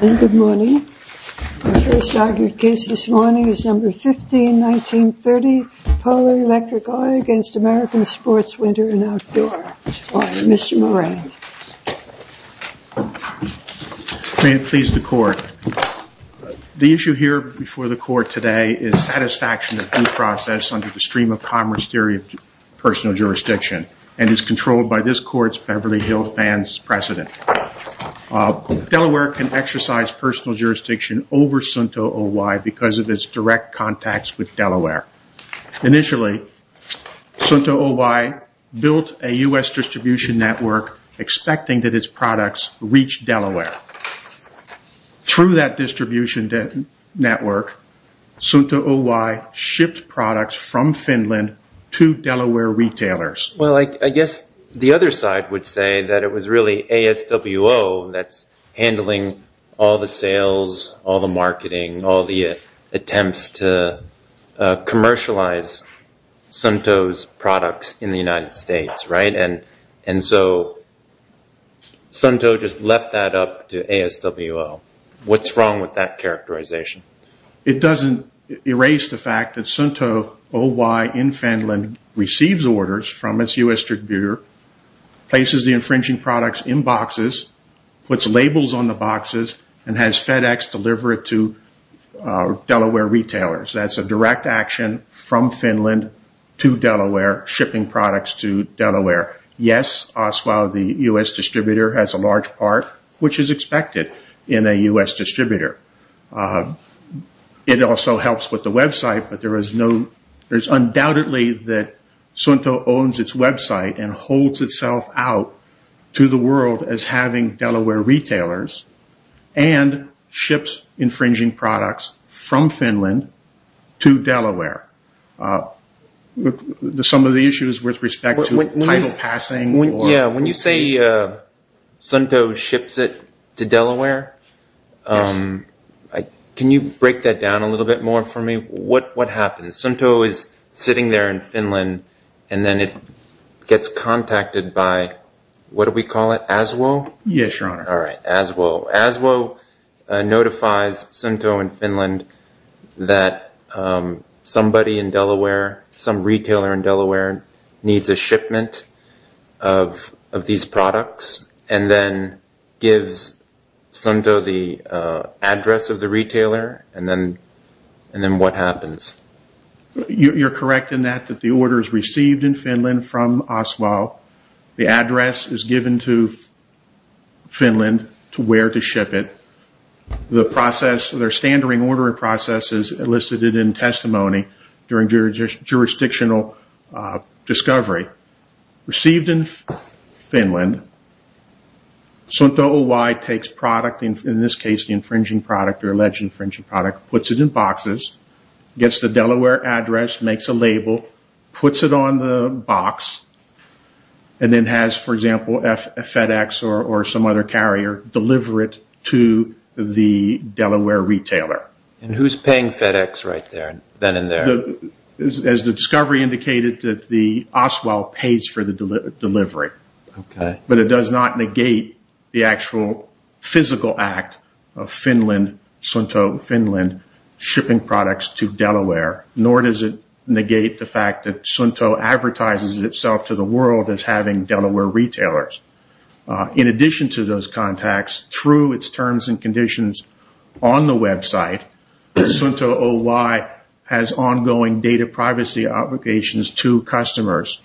May it please the Court. The issue here before the Court today is satisfaction of due process under the Stream of Commerce Theory of Personal Jurisdiction and is controlled by this Court's precedent. Delaware can exercise personal jurisdiction over Suunto Oy because of its direct contacts with Delaware. Initially, Suunto Oy built a U.S. distribution network expecting that its products reach Delaware. Through that distribution network, Suunto Oy shipped products from Finland to Delaware retailers. I guess the other side would say that it was really ASWO that's handling all the sales, all the marketing, all the attempts to commercialize Suunto's products in the United States. Suunto just left that up to ASWO. What's wrong with that characterization? It doesn't erase the fact that Suunto Oy in Finland receives orders from its U.S. distributor, places the infringing products in boxes, puts labels on the boxes, and has FedEx deliver it to Delaware retailers. That's a direct action from Finland to Delaware, shipping products to Delaware. Yes, ASWO, the U.S. distributor, has a large part, which is expected in a U.S. distributor. It also helps with the website, but there's undoubtedly that Suunto owns its website and holds itself out to the world as having Delaware retailers and ships infringing products from Finland to Delaware. Some of the issues with respect to title passing. When you say Suunto ships it to Delaware, can you break that down a little bit more for me? What happens? Suunto is sitting there in Finland and then it gets contacted by, what do we call it, ASWO? Yes, your honor. All right, ASWO. ASWO notifies Suunto in Finland that somebody in Delaware, needs a shipment of these products, and then gives Suunto the address of the retailer, and then what happens? You're correct in that the order is received in Finland from ASWO. The address is given to Finland to where to ship it. The process, their standard ordering process is elicited in testimony during jurisdictional discovery. Received in Finland, Suunto OY takes product, in this case the infringing product or alleged infringing product, puts it in boxes, gets the Delaware address, makes a label, puts it on the box, and then has, for example, FedEx or some other carrier deliver it to the Delaware retailer. And who's paying FedEx right there, then and there? As the discovery indicated that the ASWO pays for the delivery, but it does not negate the actual physical act of Finland, Suunto Finland, shipping products to Delaware, nor does it negate the fact that Suunto advertises itself to the world as having Delaware retailers. In addition to those contacts, through its terms and conditions on the website, Suunto OY has ongoing data privacy obligations to customers.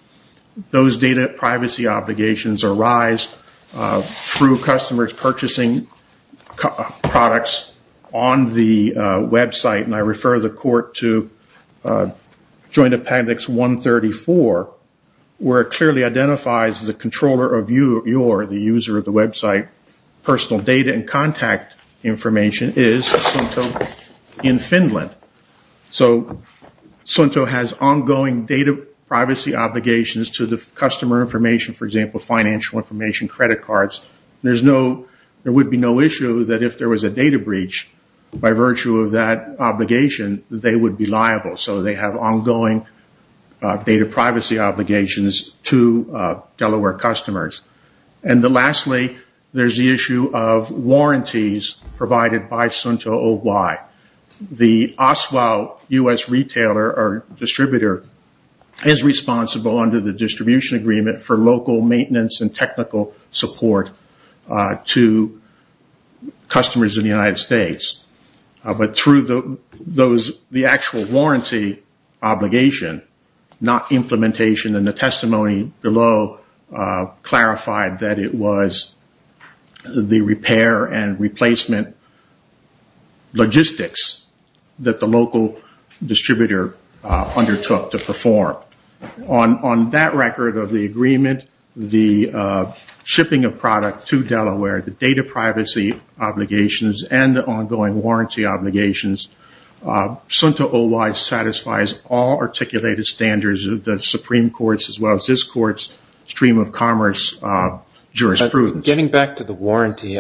Those data privacy obligations arise through customers purchasing products on the website, and I refer the court to Joint Appendix 134, where it clearly identifies the controller of your, the user of the website, personal data and contact information is Suunto in Finland. So Suunto has ongoing data privacy obligations to the customer information, for example, financial information, credit cards. There would be no issue that if there was a data breach, by virtue of that obligation, they would be liable. So they have ongoing data privacy obligations to Delaware customers. And lastly, there's the issue of warranties provided by Suunto OY. The ASWO U.S. retailer or distributor is responsible under the distribution agreement for maintenance and technical support to customers in the United States. But through the actual warranty obligation, not implementation, and the testimony below clarified that it was the repair and replacement logistics that the local distributor undertook to perform. On that record of the agreement, the shipping of product to Delaware, the data privacy obligations, and the ongoing warranty obligations, Suunto OY satisfies all articulated standards of the Supreme Court's as well as this Court's stream of commerce jurisprudence. Getting back to the warranty,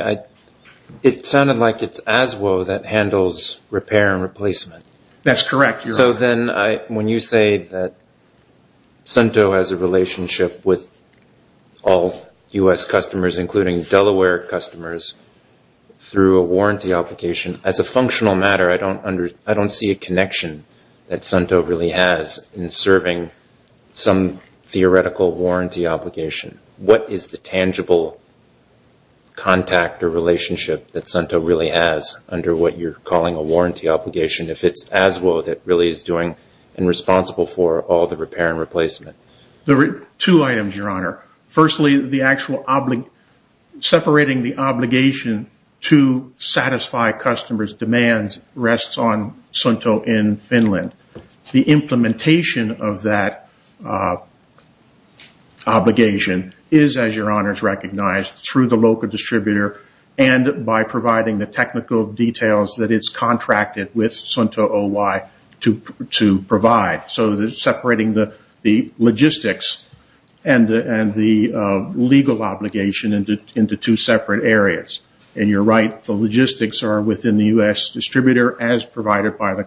it sounded like it's ASWO that handles repair and replacement. That's correct. So then when you say that Suunto has a relationship with all U.S. customers, including Delaware customers, through a warranty obligation, as a functional matter, I don't see a connection that Suunto really has in serving some theoretical warranty obligation. What is the tangible contact or relationship that Suunto really has under what you're calling a warranty obligation if it's ASWO that really is doing and responsible for all the repair and replacement? There are two items, Your Honor. Firstly, the actual separating the obligation to satisfy customers' demands rests on Suunto in Finland. The implementation of that obligation is, as Your Honor has recognized, through the local distributor and by providing the technical details that it's contracted with Suunto OY to provide. So separating the logistics and the legal obligation into two separate areas. You're right. The logistics are within the U.S. distributor as provided by the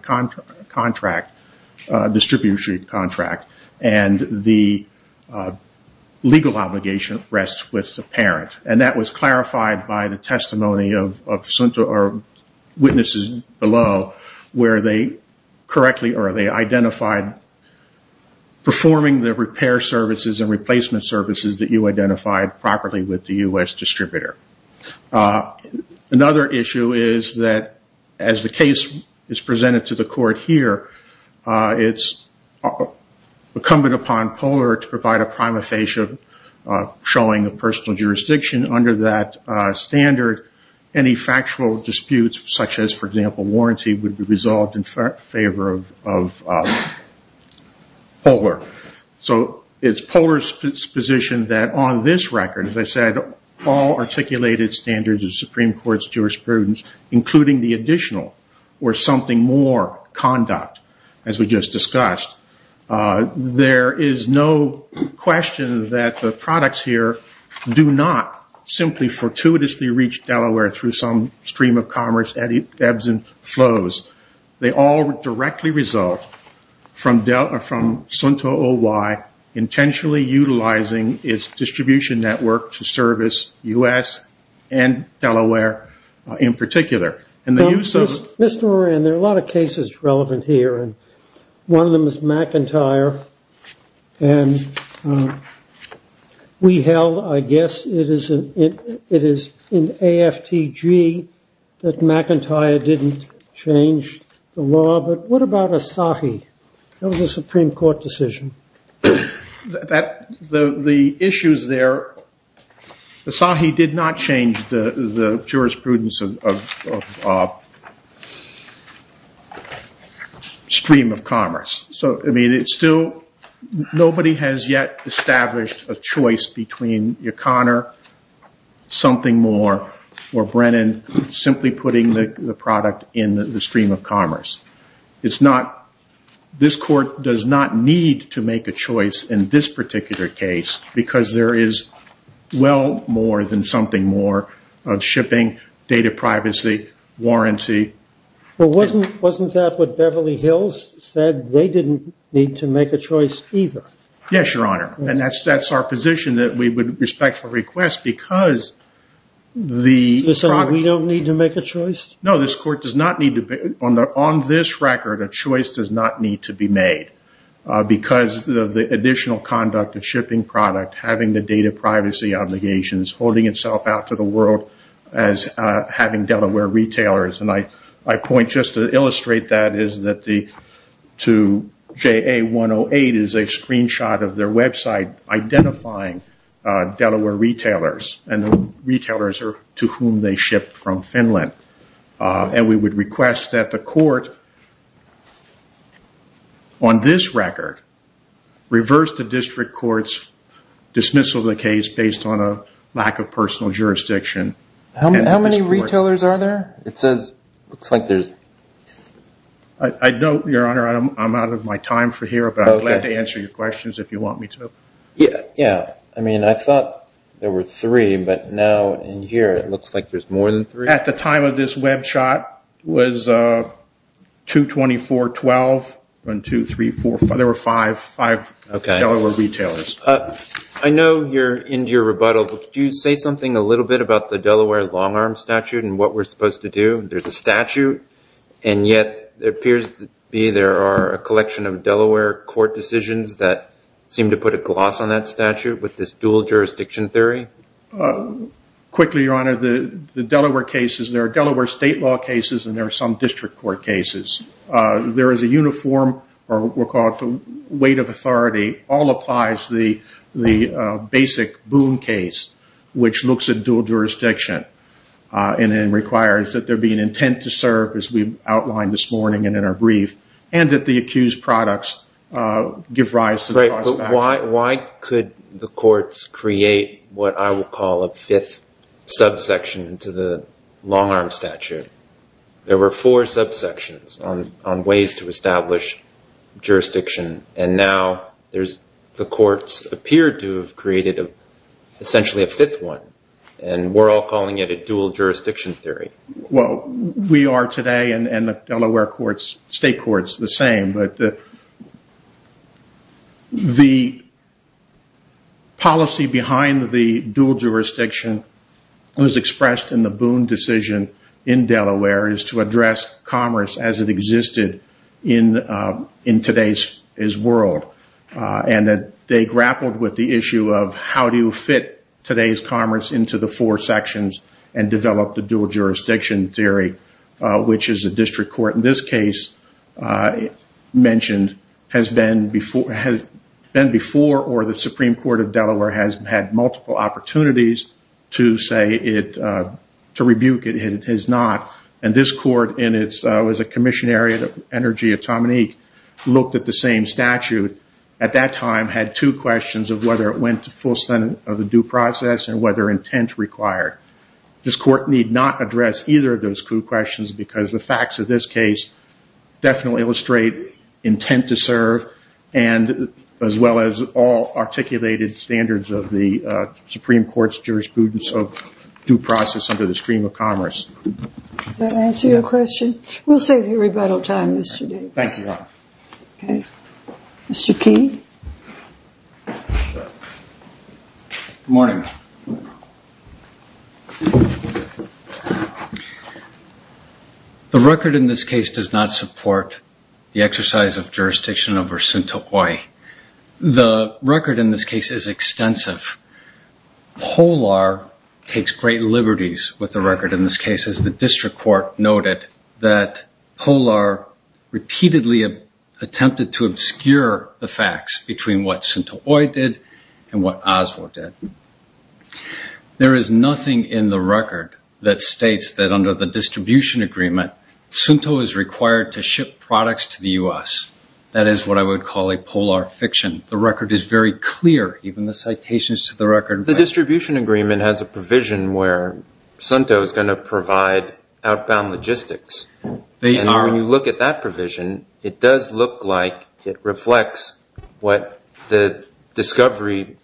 distribution contract, and the legal obligation rests with the parent. That was clarified by the testimony of witnesses below where they identified performing the repair services and replacement services that you identified properly with the U.S. distributor. Another issue is that as the case is presented to the court here, it's incumbent upon Polar to provide a prima facie showing of personal jurisdiction. Under that standard, any factual disputes such as, for example, warranty would be resolved in favor of Polar. So it's Polar's position that on this record, as I said, all articulated standards of the Supreme Court's jurisprudence, including the additional or something more conduct, as we just discussed, there is no question that the products here do not simply fortuitously reach Delaware through some stream of commerce ebbs and flows. They all directly result from Suunto OY intentionally utilizing its distribution network to service U.S. and Delaware in particular. Mr. Moran, there are a lot of cases relevant here. One of them is McIntyre. We held, I guess, it is in AFTG that McIntyre didn't change the law. But what about Asahi? That was a Supreme Court decision. The issues there, Asahi did not change the jurisprudence of stream of commerce. So, I mean, it's still, nobody has yet established a choice between O'Connor, something more, or Brennan simply putting the product in the stream of commerce. It's not, this court does not need to make a choice in this particular case because there is well more than something more of shipping, data privacy, warranty. But wasn't that what Beverly Hills said? They didn't need to make a choice either. Yes, Your Honor. And that's our position that we would respect for request because the- No, this court does not need to, on this record, a choice does not need to be made because of the additional conduct of shipping product, having the data privacy obligations, holding itself out to the world as having Delaware retailers. And I point just to illustrate that is that the, to JA 108 is a screenshot of their website identifying Delaware retailers and retailers to whom they ship from Finland. And we would request that the court on this record reverse the district court's dismissal of the case based on a lack of personal jurisdiction. How many retailers are there? It says, looks like there's- I know, Your Honor, I'm out of my time for here, but I'm glad to answer your questions if you want me to. Yeah. Yeah. I mean, I thought there were three, but now in here, it looks like there's more than three. At the time of this web shot was 22412 and 2345. There were five, five, okay, Delaware retailers. I know you're into your rebuttal, but could you say something a little bit about the Delaware long arm statute and what we're supposed to do? There's a statute and yet there appears to be, there are a collection of Delaware court decisions that seem to put a gloss on that statute with this dual jurisdiction theory. Quickly, Your Honor, the Delaware cases, there are Delaware state law cases and there are some district court cases. There is a uniform or what we'll call it the weight of authority, all applies the basic Boone case, which looks at dual jurisdiction and then requires that there is we've outlined this morning and in our brief and that the accused products, uh, give rise to why could the courts create what I will call a fifth subsection to the long arm statute. There were four subsections on, on ways to establish jurisdiction. And now there's, the courts appear to have created essentially a fifth one and we're all calling it a dual jurisdiction theory. Well, we are today and the Delaware courts, state courts the same, but the, the policy behind the dual jurisdiction was expressed in the Boone decision in Delaware is to address commerce as it existed in, uh, in today's world. Uh, and that they grappled with the issue of how do you fit today's commerce into the four sections and develop the dual jurisdiction theory, uh, which is a district court. In this case, uh, mentioned has been before, has been before, or the Supreme Court of Delaware has had multiple opportunities to say it, uh, to rebuke it. It has not. And this court in its, uh, was a commission area, the energy of Tom and Ike looked at the same statute at that time had two questions of whether it went to full Senate of the due process and whether intent required. This court need not address either of those questions because the facts of this case definitely illustrate intent to serve. And as well as all articulated standards of the, uh, Supreme Court's jurisprudence of due process under the stream of commerce. Does that answer your question? We'll save rebuttal time, Mr. Davis. Thank you. Okay. Mr. Key. Good morning. The record in this case does not support the exercise of jurisdiction over Sunto Kauai. The record in this case is extensive. HOLAR takes great liberties with the record in this case as the district court noted that polar repeatedly attempted to obscure the facts between what Sunto Kauai did and what Oswald did. There is nothing in the record that States that under the distribution agreement, Sunto is required to ship products to the U S that is what I would call a polar fiction. The record is very clear. Even the citations to the record, the distribution agreement has provision where Sunto is going to provide outbound logistics. And when you look at that provision, it does look like it reflects what the discovery,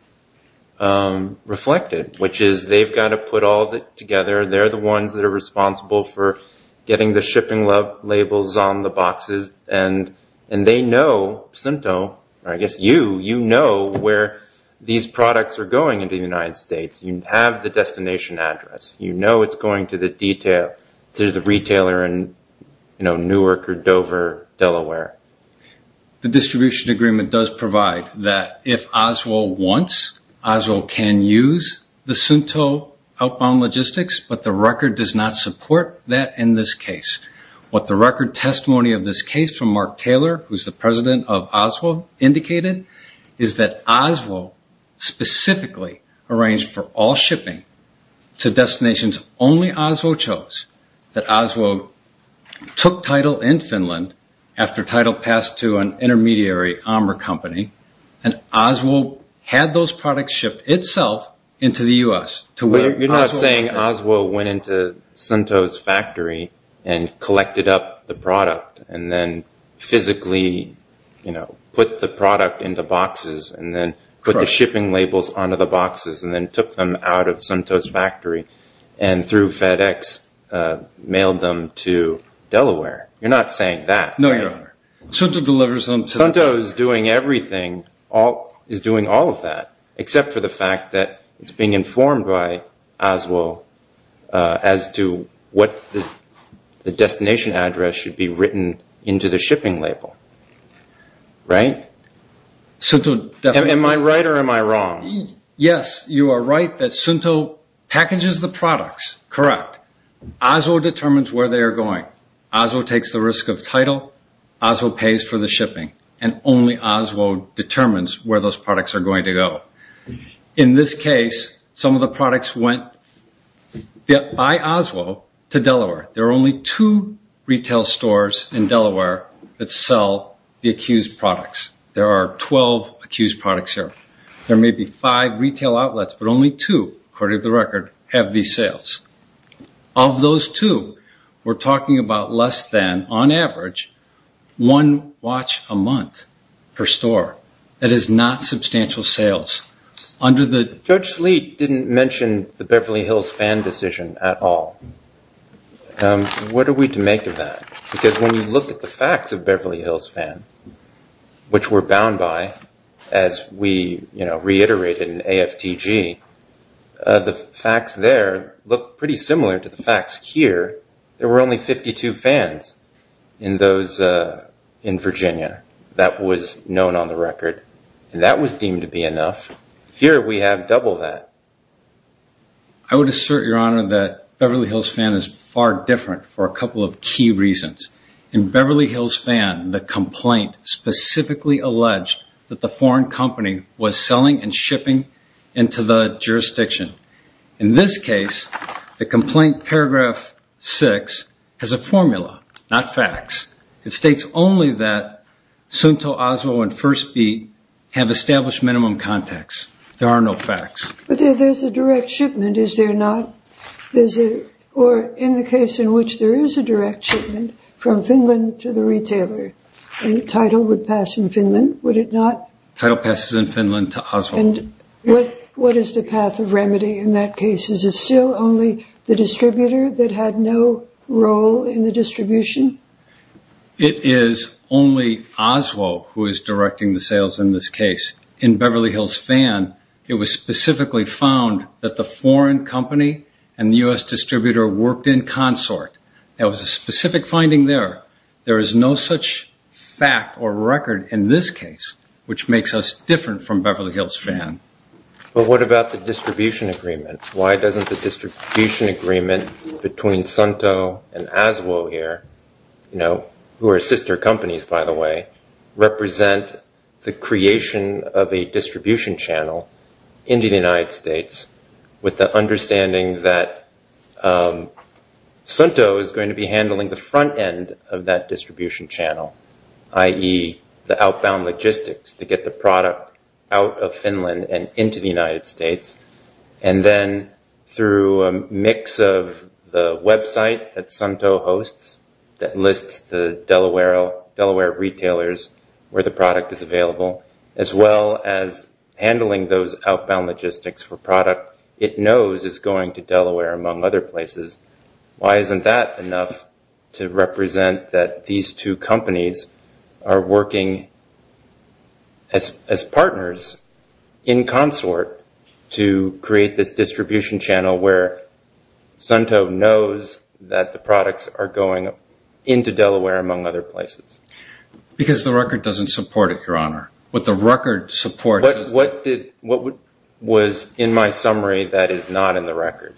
um, reflected, which is they've got to put all of it together. They're the ones that are responsible for getting the shipping love labels on the boxes. And, and they know Sunto, I guess, you, you know, where these products are going into the United States, you have the destination address, you know, it's going to the detail, to the retailer and, you know, Newark or Dover, Delaware. The distribution agreement does provide that if Oswald wants, Oswald can use the Sunto outbound logistics, but the record does not support that in this case. What the record testimony of this case from Mark Taylor, who's the president of Oswald indicated is that Oswald specifically arranged for all shipping to destinations only Oswald chose, that Oswald took title in Finland after title passed to an intermediary armor company. And Oswald had those products shipped itself into the U.S. You're not saying Oswald went into Sunto's factory and collected up the product and then physically, you know, put the product into boxes and then put the shipping labels onto the boxes and then took them out of Sunto's factory and through FedEx mailed them to Delaware. You're not saying that. No, your honor. Sunto delivers them. Sunto is doing everything, all is doing all of that, except for the fact that it's being informed by Oswald as to what the destination address should be written into the shipping label. Right? Sunto. Am I right or am I wrong? Yes, you are right that Sunto packages the products. Correct. Oswald determines where they are going. Oswald takes the risk of title. Oswald pays for the shipping and only Oswald determines where those products are going to go. In this case, some of the products went by Oswald to Delaware. There are only two retail stores in Delaware that sell the accused products. There are 12 accused products here. There may be five retail outlets, but only two, according to the record, have these sales. Of those two, we're talking about less than, on average, one watch a month per store. That is not substantial sales. Judge Sleet didn't mention the Beverly Hills fan decision at all. What are we to make of that? When you look at the facts of Beverly Hills fan, which we're bound by, as we reiterated in AFTG, the facts there look pretty similar to the facts here. There were only 52 fans in Virginia. That was known on the record. That was deemed to be enough. Here, we have double that. I would assert, Your Honor, that Beverly Hills fan is far different for a couple of key reasons. Beverly Hills fan, the complaint specifically alleged that the foreign company was selling and shipping into the jurisdiction. In this case, the complaint, paragraph six, has a formula, not facts. It states only that Suunto, Oswald, and First Beat have established minimum contacts. There are no facts. There's a direct shipment, is there not? There's a, or in the case in which there is a direct shipment from Finland to the retailer, title would pass in Finland, would it not? Title passes in Finland to Oswald. What is the path of remedy in that case? Is it still only the distributor that had no role in the distribution? It is only Oswald who is directing the sales in this case. In Beverly Hills fan, it was specifically found that the foreign company and the U.S. distributor worked in consort. There was a specific finding there. There is no such fact or record in this case, which makes us different from Beverly Hills fan. But what about the distribution agreement? Why doesn't the distribution agreement between Suunto and Aswo here, who are sister companies by the way, represent the creation of a distribution channel into the United States with the understanding that Suunto is going to be handling the front end of that distribution channel, i.e. the outbound logistics to get the Suunto hosts that lists the Delaware retailers where the product is available, as well as handling those outbound logistics for product it knows is going to Delaware among other places. Why isn't that enough to represent that these two companies are working as partners in consort to create this distribution channel where Suunto knows that the products are going into Delaware among other places? Because the record doesn't support it, Your Honor. What the record supports... What was in my summary that is not in the record?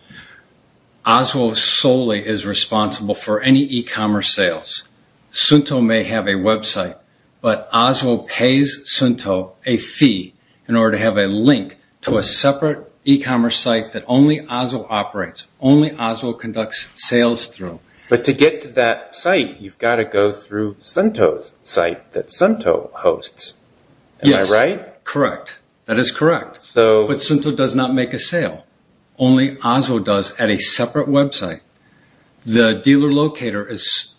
Aswo solely is responsible for any e-commerce sales. Suunto may have a website, but Aswo pays Suunto a fee in order to have a link to a separate e-commerce site that only Aswo operates. Only Aswo conducts sales through. But to get to that site, you've got to go through Suunto's site that Suunto hosts. Am I right? Correct. That is correct. But Suunto does not make a sale. Only Aswo does at a separate website. The dealer locator...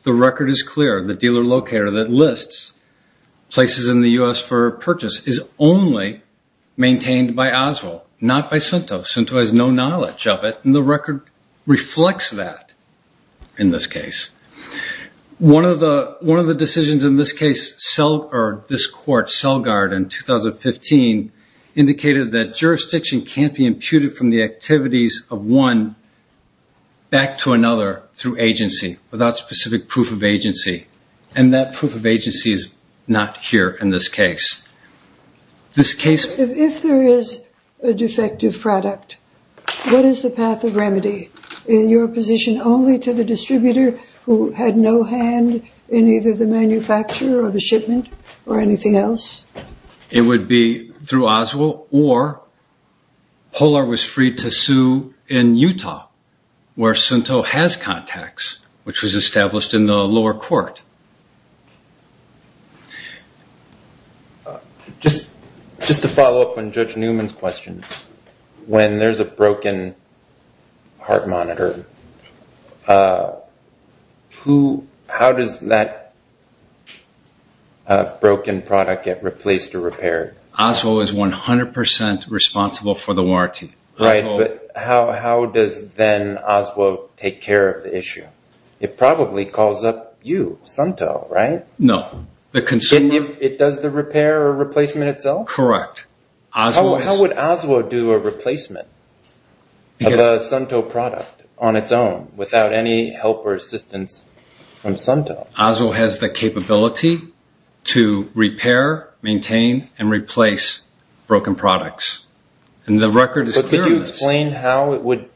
The record is clear. The dealer locator that lists places in the U.S. for purchase is only maintained by Aswo, not by Suunto. Suunto has no knowledge of it, and the record reflects that in this case. One of the decisions in this case, this court, Selgard in 2015, indicated that jurisdiction can't be imputed from the activities of one back to another through agency without specific proof of agency, and that proof of agency is not here in this case. This case... If there is a defective product, what is the path of remedy in your position only to the distributor who had no hand in either the manufacturer or the shipment or anything else? It would be through Aswo or Polar was free to sue in Utah, where Suunto has contacts, which was established in the lower court. Just to follow up on Judge Newman's question, when there's a broken heart monitor, how does that broken product get replaced or repaired? Aswo is 100% responsible for the warranty. But how does then Aswo take care of the issue? It probably calls up you, Suunto, right? No. It does the repair or replacement itself? Correct. How would Aswo do a replacement of a Suunto product on its own without any help or assistance from Suunto? Aswo has the capability to repair, maintain, and replace broken products, and the record is clear of this. Could you explain how it would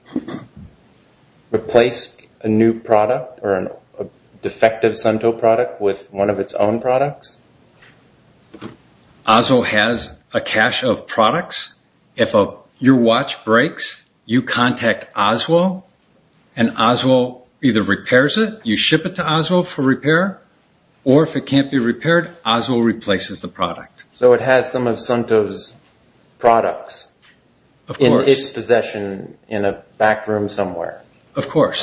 replace a new product or a defective Suunto product with one of its own products? Aswo has a cache of products. If your watch breaks, you contact Aswo, and Aswo either repairs it, you ship it to Aswo for repair, or if it can't be repaired, Aswo replaces the product. So it has some of Suunto's products in its possession in a back room somewhere? Of course.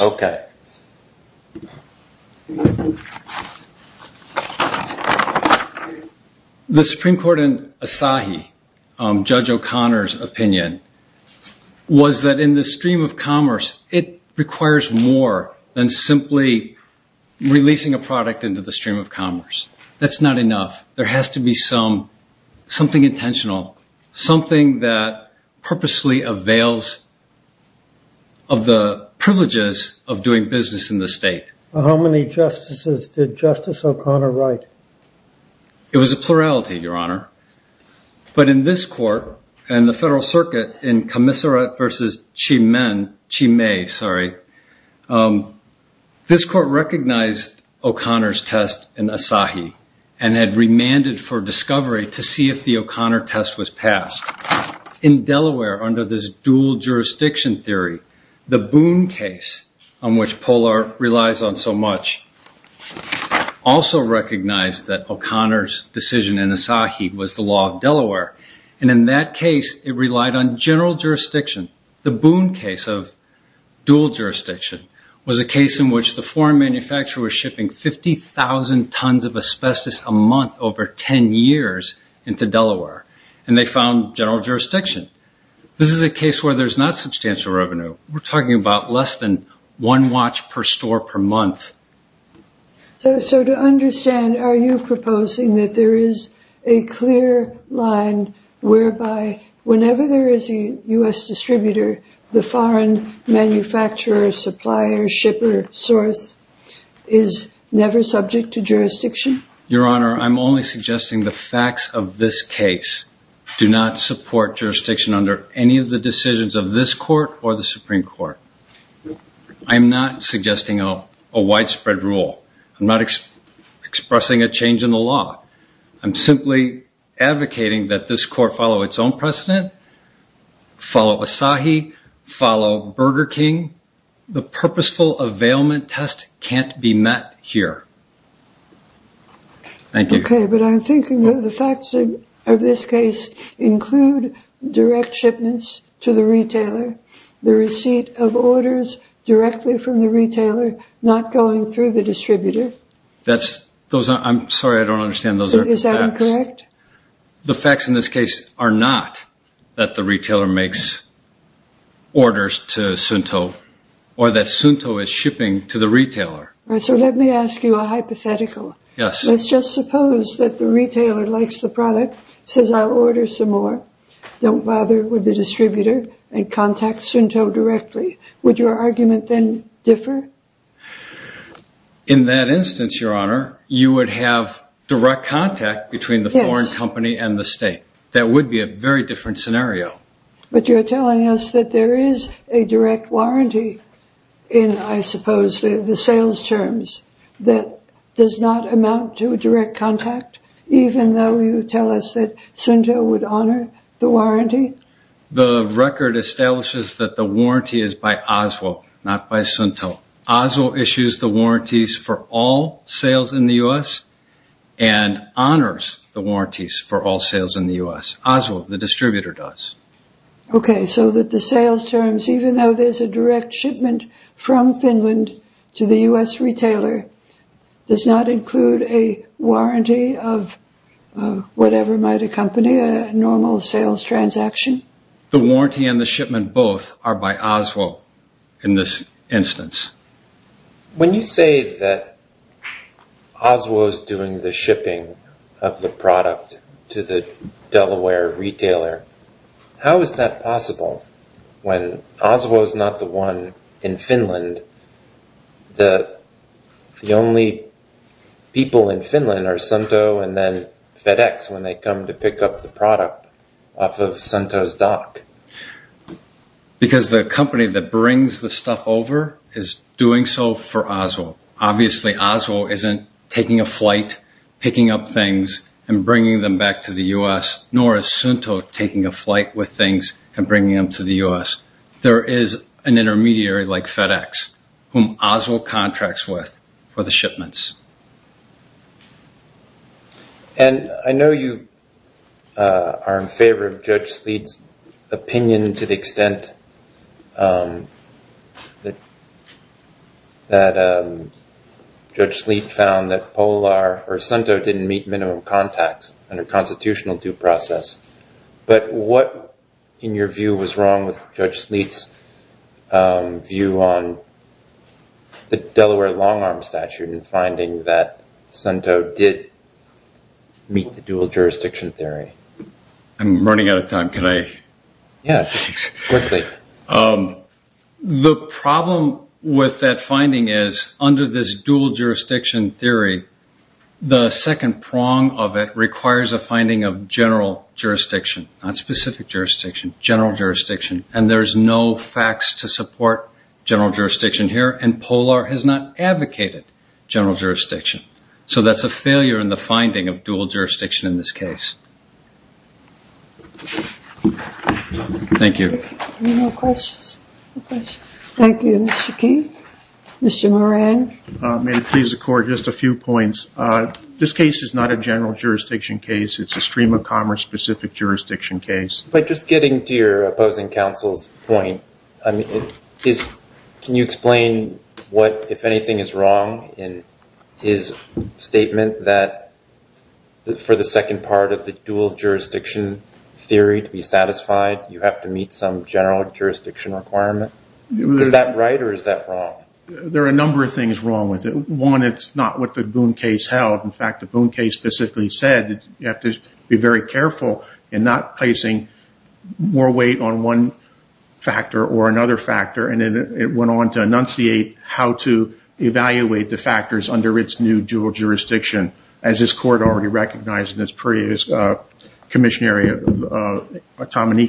The Supreme Court in Asahi, Judge O'Connor's opinion, was that in the stream of commerce, it requires more than simply releasing a product into the stream of commerce. That's not enough. There has to be something intentional, something that purposely avails of the privileges of doing business in the state. How many justices did Justice O'Connor write? It was a plurality, Your Honor. But in this court, and the Federal Circuit, in Commissure versus Chimay, this court recognized O'Connor's test in Asahi, and had remanded for discovery to see if the O'Connor test was passed. In Delaware, under this dual jurisdiction theory, the Boone case, on which Polar relies on so much, also recognized that O'Connor's decision in Asahi was the law of Delaware, and in that case, it relied on general jurisdiction. The Boone case of dual jurisdiction was a case in which the foreign manufacturer was shipping 50,000 tons of asbestos a month over 10 years into Delaware, and they found general jurisdiction. This is a case where there's not substantial revenue. We're talking about less than one watch per store per month. So to understand, are you proposing that there is a clear line whereby whenever there is a U.S. distributor, the foreign manufacturer, supplier, shipper, source is never subject to jurisdiction? Your Honor, I'm only suggesting the facts of this case do not support jurisdiction under any of the decisions of this court or the Supreme Court. I'm not suggesting a widespread rule. I'm not expressing a change in the law. I'm simply advocating that this court follow its own precedent, follow Asahi, follow Burger King. The purposeful availment test can't be met here. Thank you. Okay, but I'm thinking that the facts of this case include direct shipments to the retailer, the receipt of orders directly from the retailer, not going through the distributor. I'm sorry, I don't understand those facts. Is that incorrect? The facts in this case are not that the retailer makes orders to Suunto or that Suunto is shipping to the retailer. So let me ask you a hypothetical. Yes. Let's just suppose that the retailer likes the product, says I'll order some more, don't bother with the distributor, and contacts Suunto directly. Would your argument then differ? In that instance, Your Honor, you would have direct contact between the foreign company and the state. That would be a very different scenario. But you're telling us that there is a direct warranty in, I suppose, the sales terms that does not amount to a direct contact, even though you tell us that Suunto would honor the warranty? The record establishes that the warranty is by Oswald, not by Suunto. Oswald issues the warranties for all sales in the U.S. and honors the warranties for all sales in the U.S. Oswald, the distributor, does. Okay, so that the sales terms, even though there's a direct shipment from Finland to the U.S. retailer, does not include a warranty of whatever might accompany a normal sales transaction? The warranty and the shipment both are by Oswald in this instance. When you say that Oswald is doing the shipping of the product to the Delaware retailer, how is that possible? When Oswald is not the one in Finland, the only people in Finland are Suunto and then FedEx when they come to pick up the product off of Suunto's dock. Because the company that brings the stuff over is doing so for Oswald. Obviously, Oswald isn't taking a flight, picking up things and bringing them back to the U.S., nor is Suunto taking a flight with things and bringing them to the U.S. There is an intermediary like FedEx whom Oswald contracts with for the shipments. And I know you are in favor of Judge Sleet's opinion to the extent that Judge Sleet found that Polar or Suunto didn't meet minimum contacts under constitutional due process. But what in your view was wrong with Judge Sleet's view on the Delaware long arm statute and finding that Suunto did meet the dual jurisdiction theory? I'm running out of time. Can I? Yeah, quickly. The problem with that finding is under this dual jurisdiction theory, the second prong of it requires a finding of general jurisdiction, not specific jurisdiction, general jurisdiction. And there's no facts to support general jurisdiction here. And Polar has not advocated general jurisdiction. So that's a failure in the finding of dual jurisdiction in this case. Thank you. Thank you, Mr. King. Mr. Moran. May it please the court, just a few points. This case is not a general jurisdiction case. It's a stream of commerce specific jurisdiction case. But just getting to your opposing counsel's point, can you explain what, if anything, is wrong in his statement that for the second part of the dual jurisdiction theory to be satisfied, you have to meet some general jurisdiction requirement? Is that right or is that wrong? There are a number of things wrong with it. One, it's not what the Boone case held. In fact, the Boone case specifically said that you have to be very careful in not placing more weight on one factor or another factor. And it went on to enunciate how to evaluate the factors under its new dual jurisdiction, as this court already recognized in this previous missionary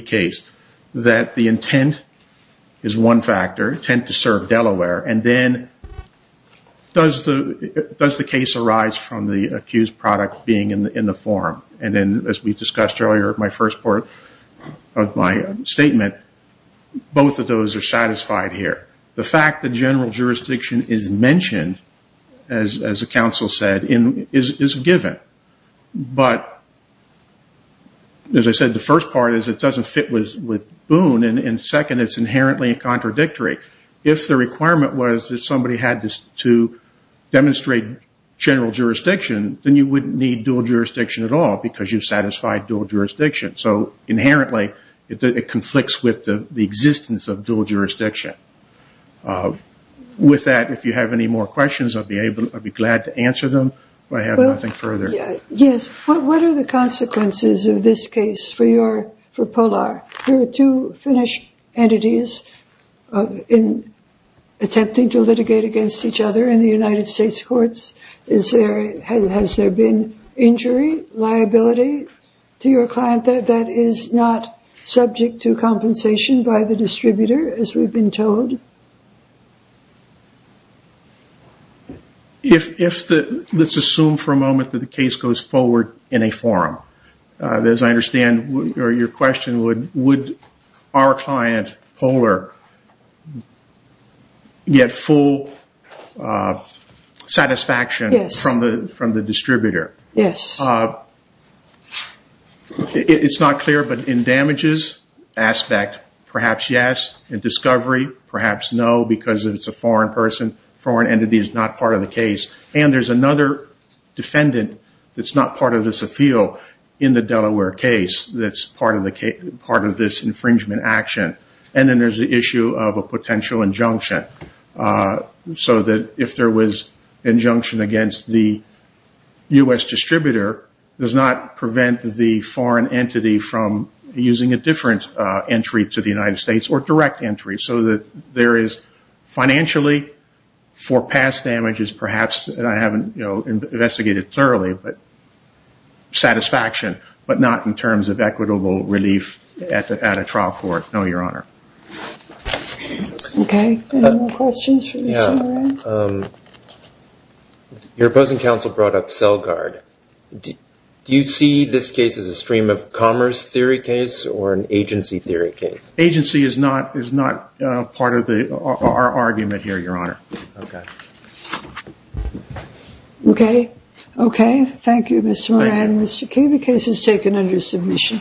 case, that the intent is one factor, intent to serve Delaware. And then, does the case arise from the accused product being in the forum? And then, as we discussed earlier in my first part of my statement, both of those are satisfied here. The fact that general jurisdiction is mentioned, as the counsel said, is given. But as I said, the first part is it doesn't fit with Boone. And second, it's inherently contradictory. If the requirement was that somebody had to demonstrate general jurisdiction, then you wouldn't need dual jurisdiction at all because you satisfied dual jurisdiction. So inherently, it conflicts with the existence of dual jurisdiction. With that, if you have any more questions, I'd be glad to answer them. I have nothing further. What are the consequences of this case for Polar? There are two Finnish entities attempting to litigate against each other in the United States courts. Has there been injury, liability to your client that is not subject to compensation by the distributor, as we've been told? Let's assume for a moment that the case goes forward in a forum. As I understand, your question would, would our client, Polar, get full satisfaction from the distributor? Yes. It's not clear, but in damages aspect, perhaps yes. In discovery, perhaps yes. Because it's a foreign person, foreign entity is not part of the case. And there's another defendant that's not part of this appeal in the Delaware case that's part of this infringement action. And then there's the issue of a potential injunction. So that if there was injunction against the U.S. distributor, it does not prevent the foreign entity from using a different entry to the United States or direct entry. So that there is financially for past damages, perhaps, and I haven't, you know, investigated thoroughly, but satisfaction, but not in terms of equitable relief at a trial court. No, Your Honor. Okay. Your opposing counsel brought up CellGuard. Do you see this case as a stream of commerce theory case or an agency theory case? Agency is not part of our argument here, Your Honor. Okay. Okay. Okay. Thank you, Mr. Moran. Mr. Key, the case is taken under submission.